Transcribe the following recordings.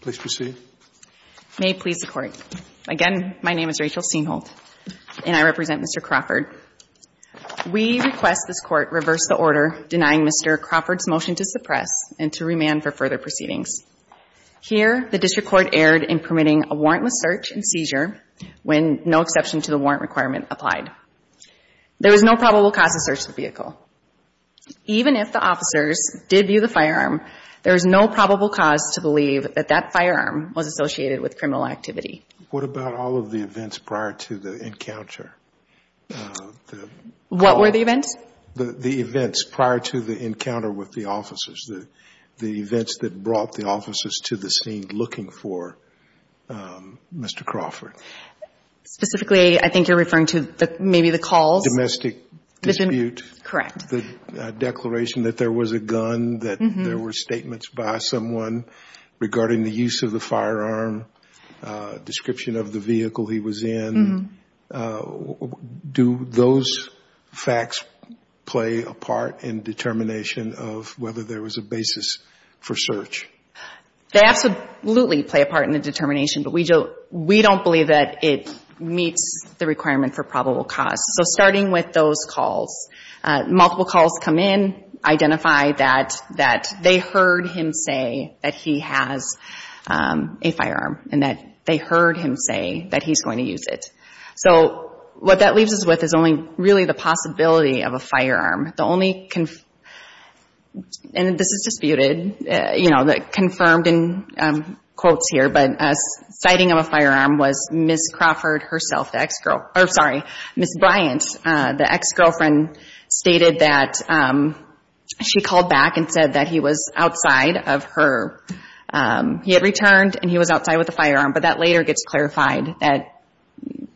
Please proceed. May it please the Court. Again, my name is Rachel Seamholt, and I represent Mr. Crawford. We request this Court reverse the order denying Mr. Crawford's motion to suppress and to remand for further proceedings. Here, the District Court erred in permitting a warrantless search and seizure when no exception to the warrant requirement applied. There is no probable cause to search the vehicle. Even if the officers did view the firearm, there is no probable cause to believe that that firearm was associated with criminal activity. What about all of the events prior to the encounter? What were the events? The events prior to the encounter with the officers, the events that brought the officers to the scene looking for Mr. Crawford. Specifically, I think you're referring to maybe the calls. Domestic dispute. Correct. The declaration that there was a gun, that there were statements by someone regarding the use of the firearm, description of the vehicle he was in. Do those facts play a part in determination of whether there was a basis for search? They absolutely play a part in the determination, but we don't believe that it meets the requirement for probable cause. So starting with those calls, multiple calls come in, identify that they heard him say that he has a firearm and that they heard him say that he's going to use it. So what that leaves us with is only really the possibility of a firearm. And this is disputed, you know, confirmed in quotes here, but a sighting of a firearm was Ms. Crawford herself, the ex-girlfriend. Sorry, Ms. Bryant, the ex-girlfriend, stated that she called back and said that he was outside of her. He had returned and he was outside with a firearm, but that later gets clarified that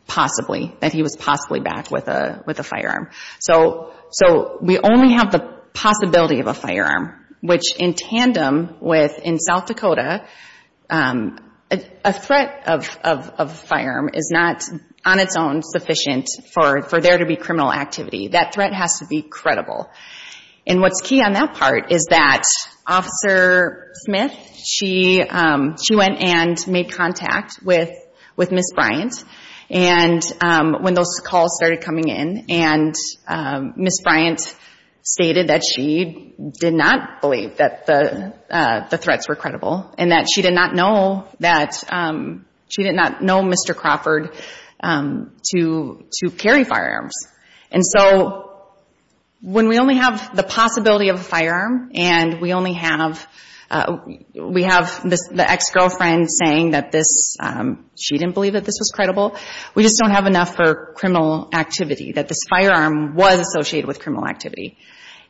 possibly, that he was possibly back with a firearm. So we only have the possibility of a firearm, which in tandem with in South Dakota, a threat of a firearm is not on its own sufficient for there to be criminal activity. That threat has to be credible. And what's key on that part is that Officer Smith, she went and made contact with Ms. Bryant when those calls started coming in and Ms. Bryant stated that she did not believe that the threats were credible and that she did not know Mr. Crawford to carry firearms. And so when we only have the possibility of a firearm and we have the ex-girlfriend saying that she didn't believe that this was credible, we just don't have enough for criminal activity, that this firearm was associated with criminal activity.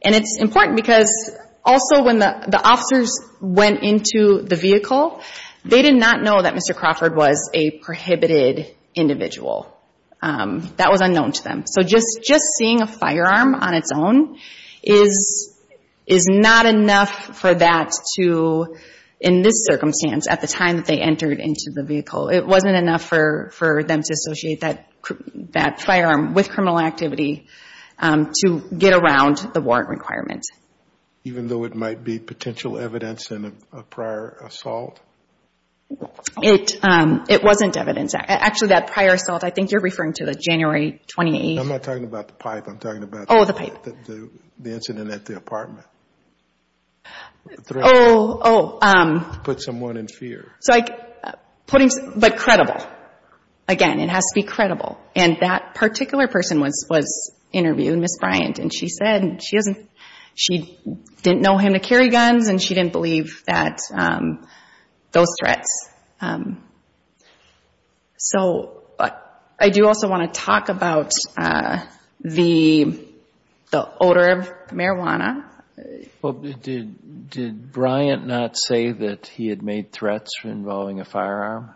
And it's important because also when the officers went into the vehicle, they did not know that Mr. Crawford was a prohibited individual. That was unknown to them. So just seeing a firearm on its own is not enough for that to, it wasn't enough for them to associate that firearm with criminal activity to get around the warrant requirements. Even though it might be potential evidence in a prior assault? It wasn't evidence. Actually, that prior assault, I think you're referring to the January 28th. I'm not talking about the pipe. I'm talking about the incident at the apartment. Oh, oh. To put someone in fear. But credible. Again, it has to be credible. And that particular person was interviewed, Ms. Bryant, and she said she didn't know him to carry guns and she didn't believe those threats. So I do also want to talk about the odor of marijuana. Well, did Bryant not say that he had made threats involving a firearm?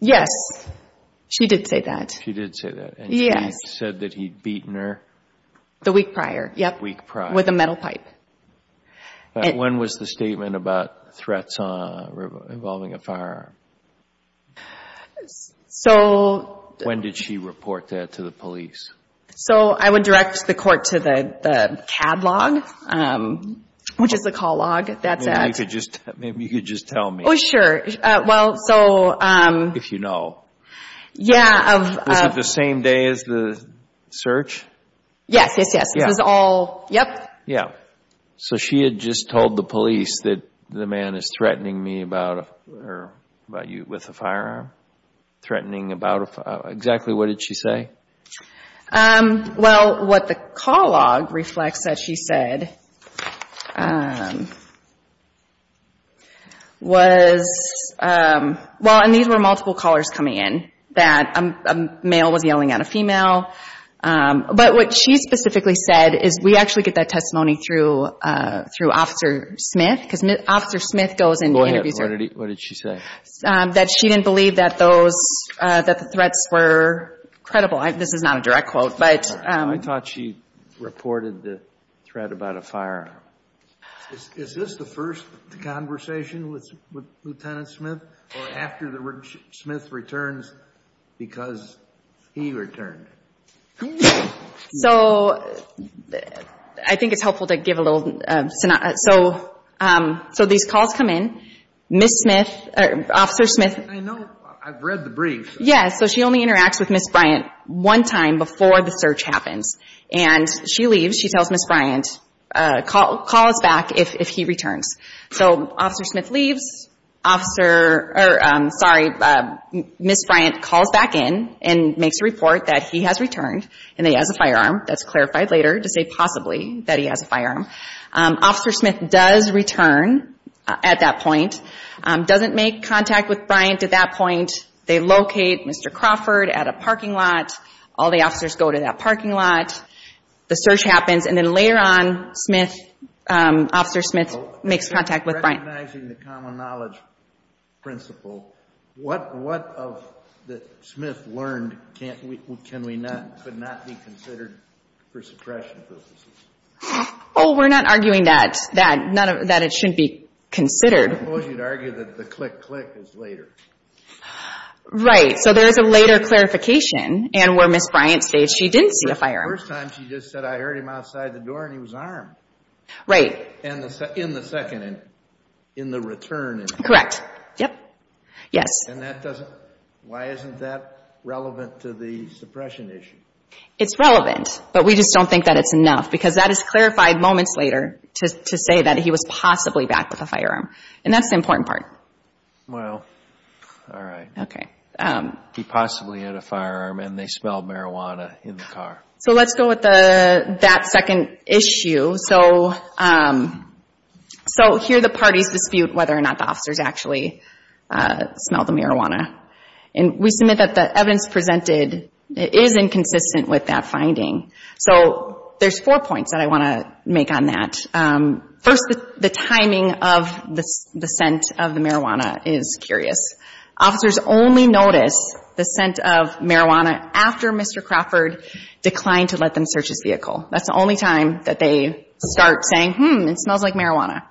Yes. She did say that. She did say that. Yes. And she said that he'd beaten her? The week prior, yep. Week prior. With a metal pipe. When was the statement about threats involving a firearm? So. When did she report that to the police? So I would direct the court to the CAD log, which is the call log. That's it. Maybe you could just tell me. Oh, sure. Well, so. If you know. Yeah. Was it the same day as the search? Yes, yes, yes. This was all. Yep. Yep. So she had just told the police that the man is threatening me with a firearm? Threatening about. Exactly what did she say? Well, what the call log reflects that she said was. Well, and these were multiple callers coming in. That a male was yelling at a female. But what she specifically said is. We actually get that testimony through Officer Smith. Because Officer Smith goes and interviews her. Go ahead. What did she say? That she didn't believe that those. That the threats were credible. This is not a direct quote. But. I thought she reported the threat about a firearm. Is this the first conversation with Lieutenant Smith? Or after the Rich Smith returns. Because he returned. So. I think it's helpful to give a little. So these calls come in. Miss Smith. Officer Smith. I know. I've read the brief. Yeah. So she only interacts with Miss Bryant one time before the search happens. And she leaves. She tells Miss Bryant. Call us back if he returns. So Officer Smith leaves. Officer. Sorry. Miss Bryant calls back in. And makes a report that he has returned. And that he has a firearm. That's clarified later to say possibly that he has a firearm. Officer Smith does return at that point. Doesn't make contact with Bryant at that point. They locate Mr. Crawford at a parking lot. All the officers go to that parking lot. The search happens. And then later on, Smith. Officer Smith makes contact with Bryant. Recognizing the common knowledge principle. What of the Smith learned can we not. Could not be considered for suppression purposes? Oh, we're not arguing that. That it shouldn't be considered. I suppose you'd argue that the click, click is later. Right. So there's a later clarification. And where Miss Bryant states she didn't see a firearm. The first time she just said I heard him outside the door and he was armed. Right. In the second. In the return. Correct. Yep. Yes. And that doesn't. Why isn't that relevant to the suppression issue? It's relevant. But we just don't think that it's enough. Because that is clarified moments later. To say that he was possibly backed with a firearm. And that's the important part. Wow. All right. Okay. He possibly had a firearm and they smelled marijuana in the car. So let's go with that second issue. So here the parties dispute whether or not the officers actually smelled the marijuana. And we submit that the evidence presented is inconsistent with that finding. So there's four points that I want to make on that. First, the timing of the scent of the marijuana is curious. Officers only notice the scent of marijuana after Mr. Crawford declined to let them search his vehicle. That's the only time that they start saying, hmm, it smells like marijuana.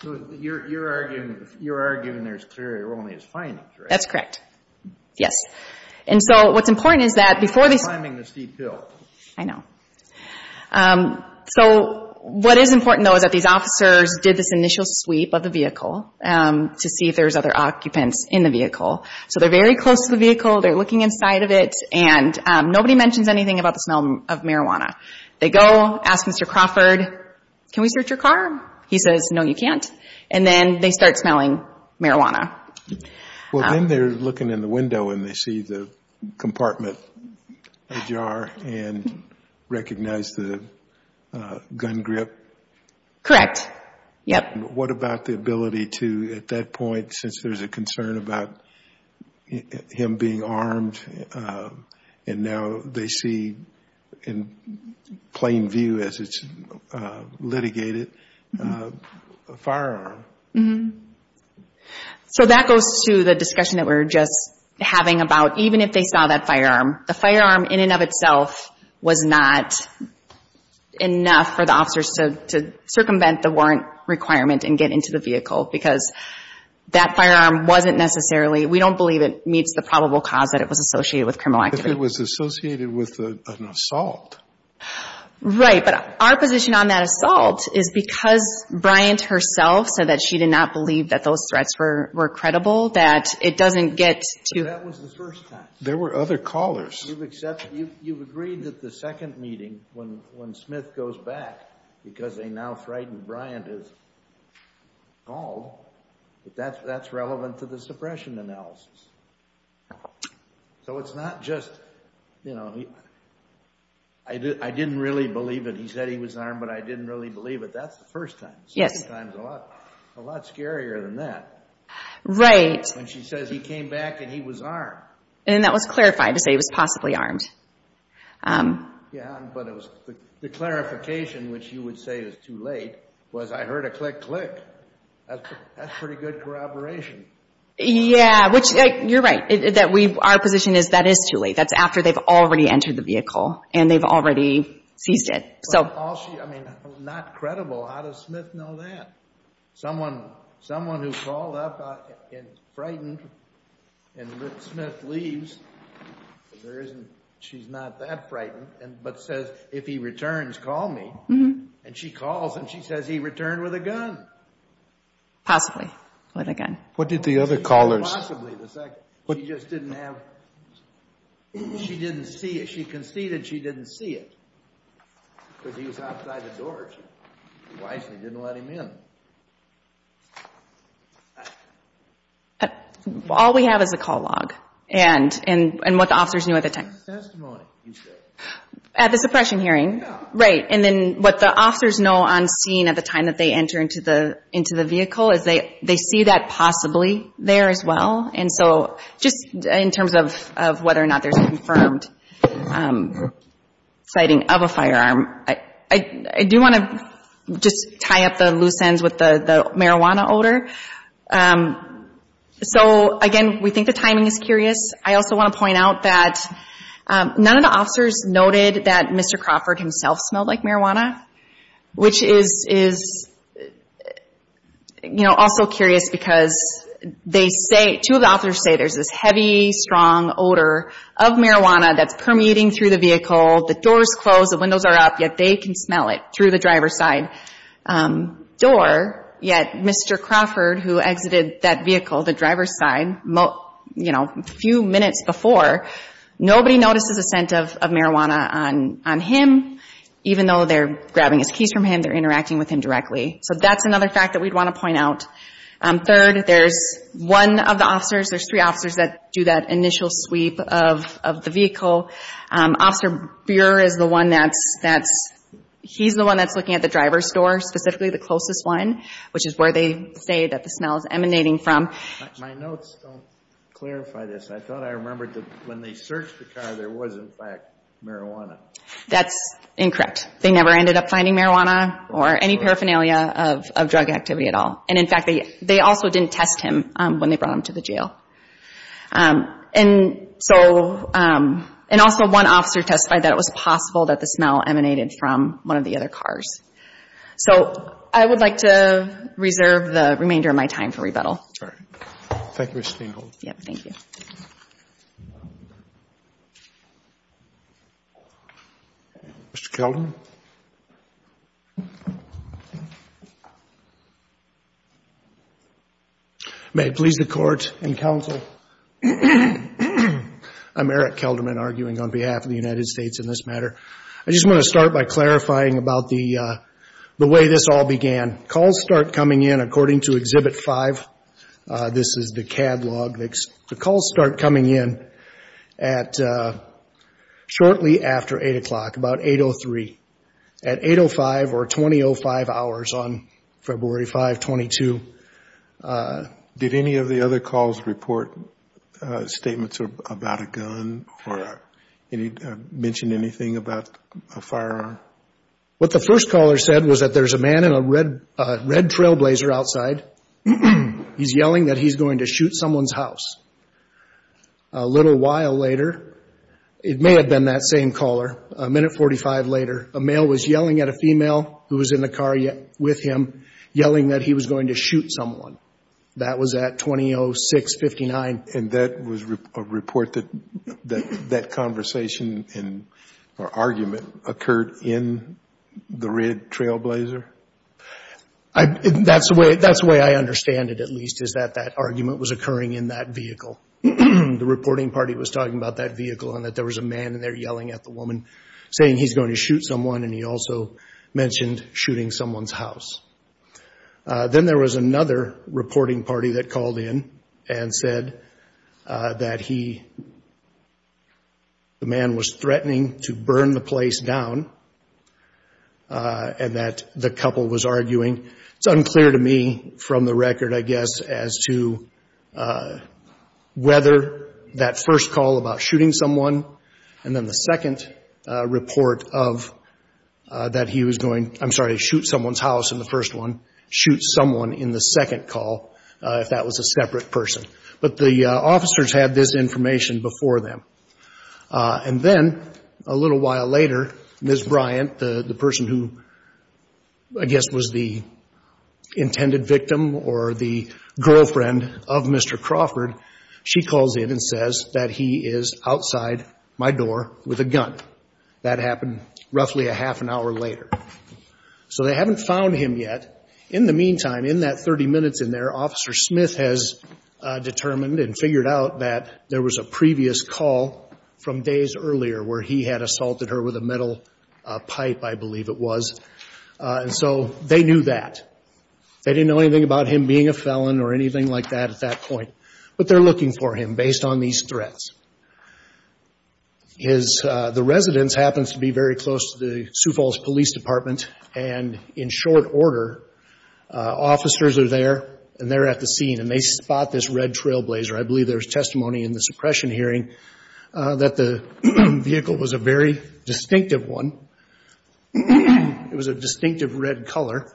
So you're arguing there's clearly only his findings, right? That's correct. Yes. And so what's important is that before they... I'm timing this deep hill. I know. So what is important, though, is that these officers did this initial sweep of the vehicle to see if there's other occupants in the vehicle. So they're very close to the vehicle. They're looking inside of it. And nobody mentions anything about the smell of marijuana. They go, ask Mr. Crawford, can we search your car? He says, no, you can't. And then they start smelling marijuana. Well, then they're looking in the window and they see the compartment, the jar, and recognize the gun grip. Correct. Yep. And what about the ability to, at that point, since there's a concern about him being armed, and now they see in plain view as it's litigated, a firearm? Mm-hmm. So that goes to the discussion that we were just having about even if they saw that firearm, the firearm in and of itself was not enough for the officers to circumvent the warrant requirement and get into the vehicle because that firearm wasn't necessarily, we don't believe it meets the probable cause that it was associated with criminal activity. If it was associated with an assault. Right. But our position on that assault is because Bryant herself said that she did not believe that those threats were credible, that it doesn't get to... That was the first time. There were other callers. You've accepted, you've agreed that the second meeting, when Smith goes back, because they now frightened Bryant is called, that that's relevant to the suppression analysis. So it's not just, you know, I didn't really believe it. He said he was armed, but I didn't really believe it. That's the first time. Yes. The second time is a lot scarier than that. Right. When she says he came back and he was armed. And that was clarified to say he was possibly armed. Yeah, but the clarification, which you would say is too late, was I heard a click, click. That's pretty good corroboration. Yeah, which you're right. Our position is that is too late. That's after they've already entered the vehicle and they've already seized it. I mean, not credible. How does Smith know that? Someone who called up and frightened and Smith leaves, she's not that frightened, but says if he returns, call me. And she calls and she says he returned with a gun. Possibly with a gun. What did the other callers say? Possibly. She just didn't have, she didn't see it. She wisely didn't let him in. All we have is a call log and what the officers knew at the time. It's testimony. At the suppression hearing. Yeah. Right. And then what the officers know on scene at the time that they enter into the vehicle is they see that possibly there as well. And so just in terms of whether or not there's a confirmed sighting of a firearm, I do want to just tie up the loose ends with the marijuana odor. So, again, we think the timing is curious. I also want to point out that none of the officers noted that Mr. Crawford himself smelled like marijuana, which is, you know, also curious because they say, two of the officers say, there's this heavy, strong odor of marijuana that's permeating through the vehicle. The doors close, the windows are up, yet they can smell it through the driver's side door. Yet Mr. Crawford, who exited that vehicle, the driver's side, you know, a few minutes before, nobody notices a scent of marijuana on him. Even though they're grabbing his keys from him, they're interacting with him directly. So that's another fact that we'd want to point out. Third, there's one of the officers, there's three officers that do that initial sweep of the vehicle. Officer Buer is the one that's, he's the one that's looking at the driver's door, specifically the closest one, which is where they say that the smell is emanating from. My notes don't clarify this. I thought I remembered that when they searched the car, there was, in fact, marijuana. That's incorrect. They never ended up finding marijuana or any paraphernalia of drug activity at all. And, in fact, they also didn't test him when they brought him to the jail. And so, and also one officer testified that it was possible that the smell emanated from one of the other cars. So I would like to reserve the remainder of my time for rebuttal. All right. Thank you, Ms. Stengel. Yep, thank you. Mr. Kelton. May it please the Court and Counsel, I'm Eric Kelderman arguing on behalf of the United States in this matter. I just want to start by clarifying about the way this all began. Calls start coming in according to Exhibit 5. This is the CAD log. The calls start coming in at, shortly after 8 o'clock, about 8.03. At 8.05 or 20.05 hours on February 5, 22. Did any of the other calls report statements about a gun or mention anything about a firearm? What the first caller said was that there's a man in a red trailblazer outside. He's yelling that he's going to shoot someone's house. A little while later, it may have been that same caller, a minute 45 later, a male was yelling at a female who was in the car with him, yelling that he was going to shoot someone. That was at 20.06.59. And that was a report that that conversation or argument occurred in the red trailblazer? That's the way I understand it, at least, is that that argument was occurring in that vehicle. The reporting party was talking about that vehicle and that there was a man in there yelling at the woman, saying he's going to shoot someone, and he also mentioned shooting someone's house. Then there was another reporting party that called in and said that he, the man was threatening to burn the place down and that the couple was arguing. It's unclear to me from the record, I guess, as to whether that first call about shooting someone and then the second report of that he was going, I'm sorry, to shoot someone's house in the first one, shoot someone in the second call, if that was a separate person. But the officers had this information before them. And then a little while later, Ms. Bryant, the person who, I guess, was the intended victim or the girlfriend of Mr. Crawford, she calls in and says that he is outside my door with a gun. That happened roughly a half an hour later. So they haven't found him yet. In the meantime, in that 30 minutes in there, Officer Smith has determined and figured out that there was a previous call from days earlier where he had assaulted her with a metal pipe, I believe it was. And so they knew that. They didn't know anything about him being a felon or anything like that at that point. But they're looking for him based on these threats. The residence happens to be very close to the Sioux Falls Police Department. And in short order, officers are there and they're at the scene and they spot this red trailblazer. I believe there was testimony in the suppression hearing that the vehicle was a very distinctive one. It was a distinctive red color.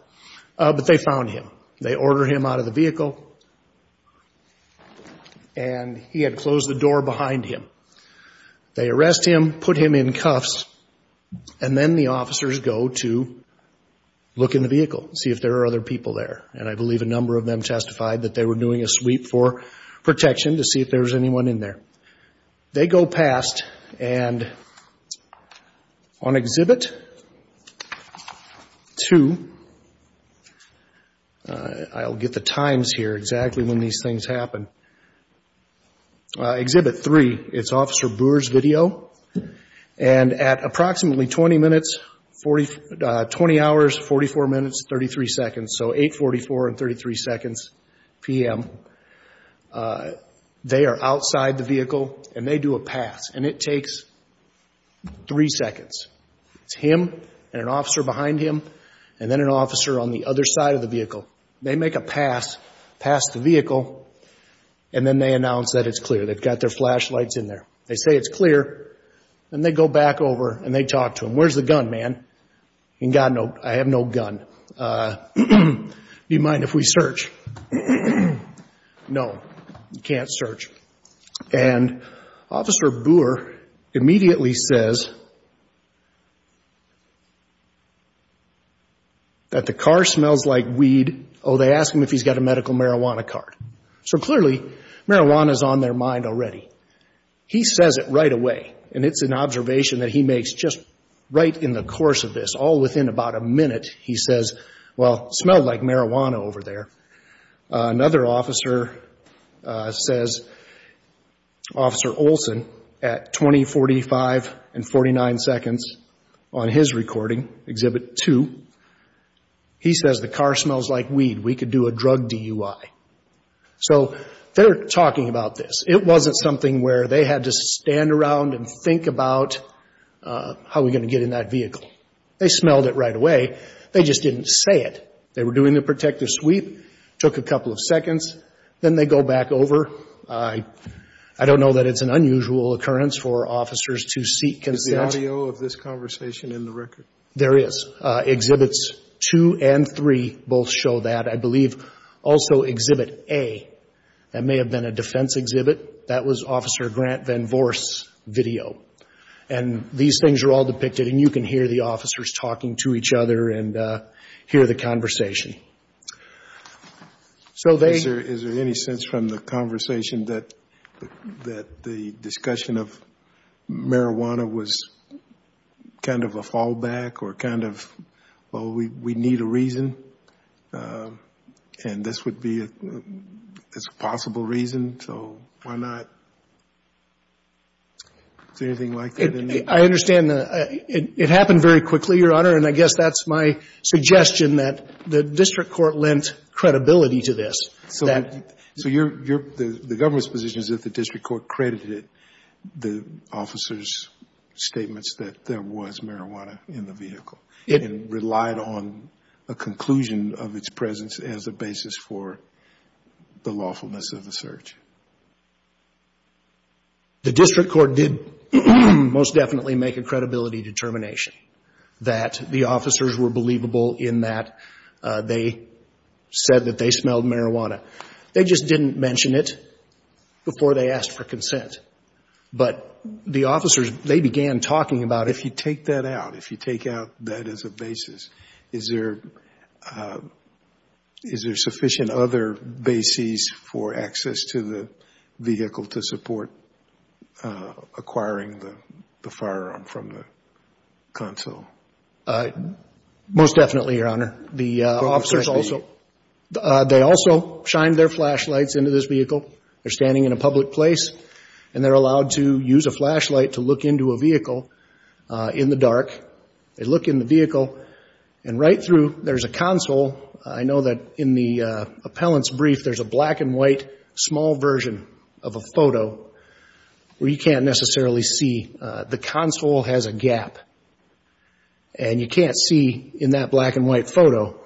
But they found him. They order him out of the vehicle. And he had closed the door behind him. They arrest him, put him in cuffs, and then the officers go to look in the vehicle, see if there are other people there. And I believe a number of them testified that they were doing a sweep for protection to see if there was anyone in there. They go past. And on Exhibit 2, I'll get the times here exactly when these things happen. Exhibit 3, it's Officer Brewer's video. And at approximately 20 minutes, 20 hours, 44 minutes, 33 seconds, so 8.44 and 33 seconds p.m., they are outside the vehicle and they do a pass. And it takes three seconds. It's him and an officer behind him and then an officer on the other side of the vehicle. They make a pass, pass the vehicle, and then they announce that it's clear. They've got their flashlights in there. They say it's clear. And they go back over and they talk to him. Where's the gun, man? And God, no, I have no gun. Do you mind if we search? No, you can't search. And Officer Brewer immediately says that the car smells like weed. Oh, they ask him if he's got a medical marijuana card. So clearly, marijuana is on their mind already. He says it right away, and it's an observation that he makes just right in the course of this. All within about a minute, he says, well, it smelled like marijuana over there. Another officer says, Officer Olson, at 20, 45, and 49 seconds on his recording, Exhibit 2, he says the car smells like weed. We could do a drug DUI. So they're talking about this. It wasn't something where they had to stand around and think about how we're going to get in that vehicle. They smelled it right away. They just didn't say it. They were doing the protective sweep, took a couple of seconds, then they go back over. I don't know that it's an unusual occurrence for officers to seek consent. Is the audio of this conversation in the record? There is. Exhibits 2 and 3 both show that. I believe also Exhibit A, that may have been a defense exhibit, that was Officer Grant Van Voorst's video. These things are all depicted, and you can hear the officers talking to each other and hear the conversation. Is there any sense from the conversation that the discussion of marijuana was kind of a fallback, or kind of, well, we need a reason, and this would be a possible reason, so why not? Is there anything like that? I understand it happened very quickly, Your Honor, and I guess that's my suggestion that the district court lent credibility to this. So the government's position is that the district court credited the officers' statements that there was marijuana in the vehicle and relied on a conclusion of its presence as a basis for the lawfulness of the search. The district court did most definitely make a credibility determination that the officers were believable in that they said that they smelled marijuana. They just didn't mention it before they asked for consent. But the officers, they began talking about if you take that out, if you take out that as a basis, is there sufficient other bases for access to the vehicle to support acquiring the firearm from the consul? Most definitely, Your Honor. The officers also, they also shined their flashlights into this vehicle. They're standing in a public place, and they're allowed to use a flashlight to look into a vehicle in the dark. They look in the vehicle, and right through, there's a console. I know that in the appellant's brief, there's a black-and-white small version of a photo where you can't necessarily see. The console has a gap, and you can't see in that black-and-white photo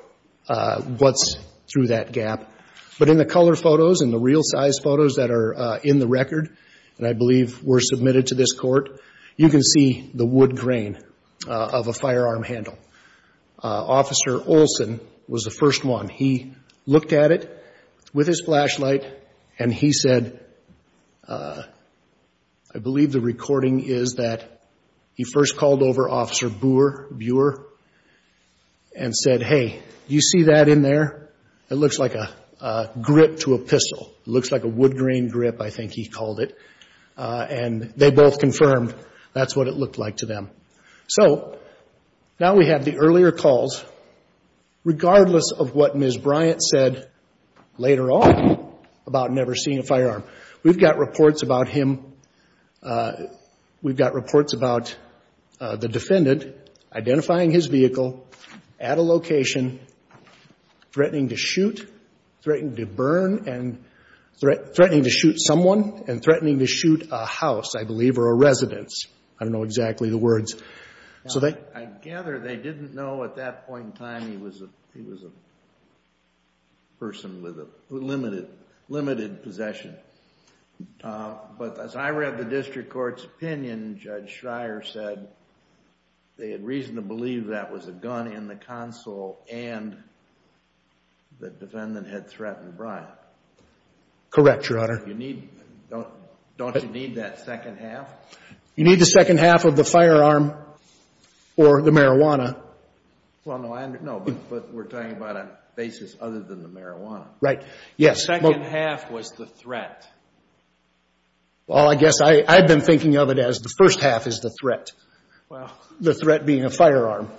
what's through that gap. But in the color photos and the real-size photos that are in the record, and I believe were submitted to this court, you can see the wood grain of a firearm handle. Officer Olson was the first one. He looked at it with his flashlight, and he said, I believe the recording is that he first called over Officer Buer and said, hey, do you see that in there? It looks like a grip to a pistol. It looks like a wood grain grip, I think he called it. And they both confirmed that's what it looked like to them. So now we have the earlier calls, regardless of what Ms. Bryant said later on about never seeing a firearm. We've got reports about him. We've got reports about the defendant identifying his vehicle at a location, threatening to shoot, threatening to burn, and threatening to shoot someone and threatening to shoot a house, I believe, or a residence. I gather they didn't know at that point in time he was a person with limited possession. But as I read the district court's opinion, Judge Schreier said they had reason to believe that was a gun in the console and the defendant had threatened Bryant. Correct, Your Honor. Don't you need that second half? You need the second half of the firearm or the marijuana. Well, no, but we're talking about a basis other than the marijuana. Right, yes. The second half was the threat. Well, I guess I've been thinking of it as the first half is the threat, the threat being a firearm.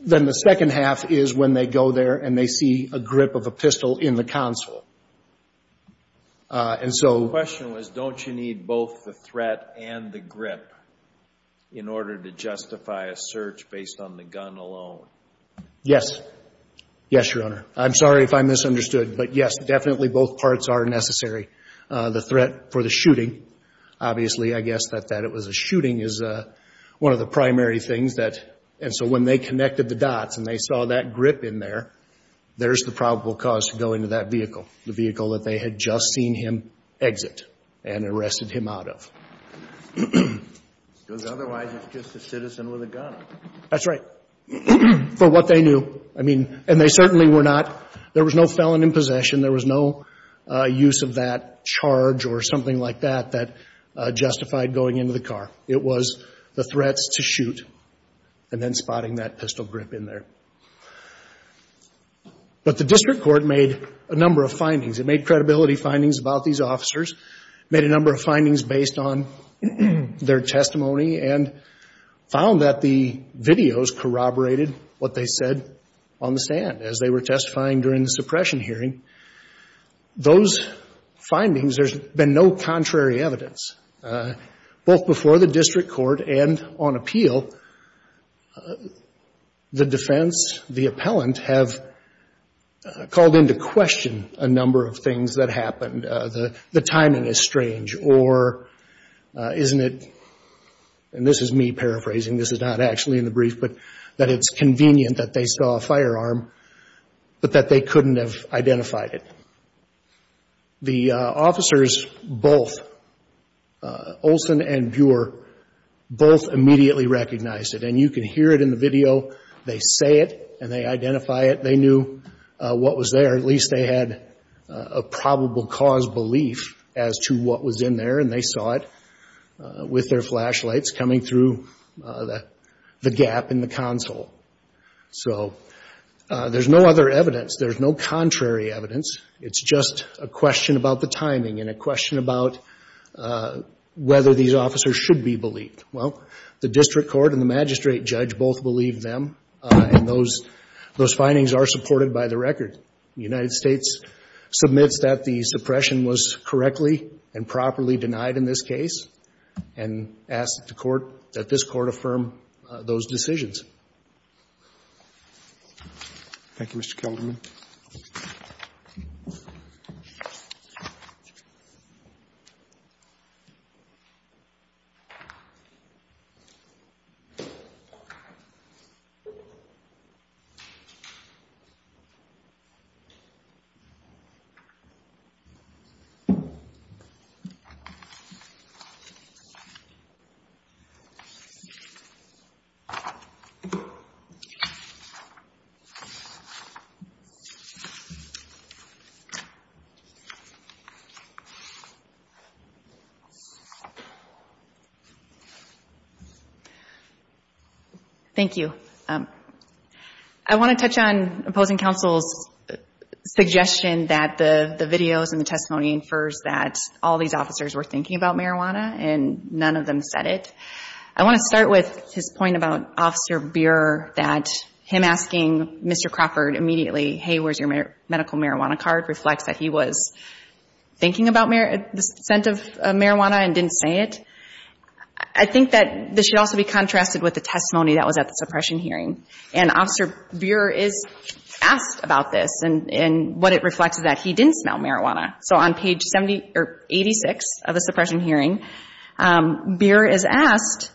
Then the second half is when they go there and they see a grip of a pistol in the console. The question was, don't you need both the threat and the grip in order to justify a search based on the gun alone? Yes. Yes, Your Honor. I'm sorry if I misunderstood, but yes, definitely both parts are necessary. The threat for the shooting, obviously, I guess that it was a shooting is one of the primary things. And so when they connected the dots and they saw that grip in there, there's the probable cause to go into that vehicle, the vehicle that they had just seen him exit and arrested him out of. Because otherwise it's just a citizen with a gun. That's right. For what they knew, I mean, and they certainly were not, there was no felon in possession, there was no use of that charge or something like that that justified going into the car. It was the threats to shoot and then spotting that pistol grip in there. But the district court made a number of findings. It made credibility findings about these officers, made a number of findings based on their testimony and found that the videos corroborated what they said on the stand as they were testifying during the suppression hearing. Those findings, there's been no contrary evidence. Both before the district court and on appeal, the defense, the appellant, have called into question a number of things that happened. The timing is strange or isn't it, and this is me paraphrasing, this is not actually in the brief, but that it's convenient that they saw a firearm, but that they couldn't have identified it. The officers both, Olson and Buehr, both immediately recognized it. And you can hear it in the video. They say it and they identify it. They knew what was there. At least they had a probable cause belief as to what was in there, and they saw it with their flashlights coming through the gap in the console. So there's no other evidence. There's no contrary evidence. It's just a question about the timing and a question about whether these officers should be believed. Well, the district court and the magistrate judge both believed them, and those findings are supported by the record. The United States submits that the suppression was correctly and properly denied in this case and asks the Court that this Court affirm those decisions. Thank you, Mr. Kellerman. Thank you. I want to touch on opposing counsel's suggestion that the videos and the testimony infers that all these officers were thinking about marijuana, and none of them said it. I want to start with his point about Officer Buehr, that him asking Mr. Crawford immediately, hey, where's your medical marijuana card, reflects that he was thinking about the scent of marijuana and didn't say it. I think that this should also be contrasted with the testimony that was at the suppression hearing. And Officer Buehr is asked about this, and what it reflects is that he didn't smell marijuana. So on page 76 of the suppression hearing, Buehr is asked,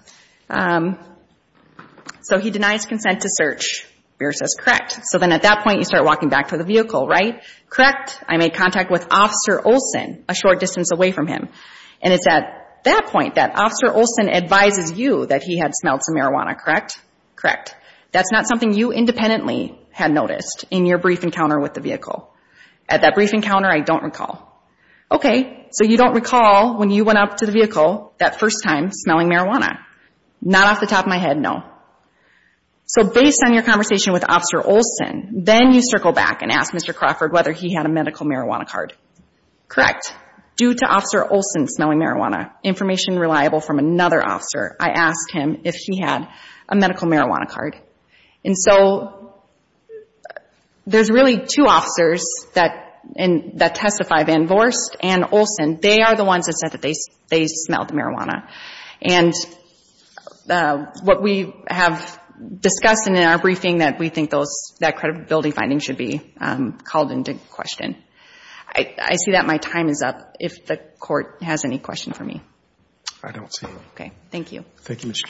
so he denies consent to search, Buehr says, correct. So then at that point, you start walking back to the vehicle, right? Correct, I made contact with Officer Olson a short distance away from him. And it's at that point that Officer Olson advises you that he had smelled some marijuana, correct? Correct. That's not something you independently had noticed in your brief encounter with the vehicle. At that brief encounter, I don't recall. Okay, so you don't recall when you went up to the vehicle that first time smelling marijuana. Not off the top of my head, no. So based on your conversation with Officer Olson, then you circle back and ask Mr. Crawford whether he had a medical marijuana card. Correct. Due to Officer Olson smelling marijuana, information reliable from another officer, I asked him if he had a medical marijuana card. And so there's really two officers that testify, Van Voorst and Olson. They are the ones that said that they smelled marijuana. And what we have discussed in our briefing that we think that credibility finding should be called into question. I see that my time is up. If the Court has any questions for me. I don't see any. Okay, thank you. Thank you, Ms. Schumacher.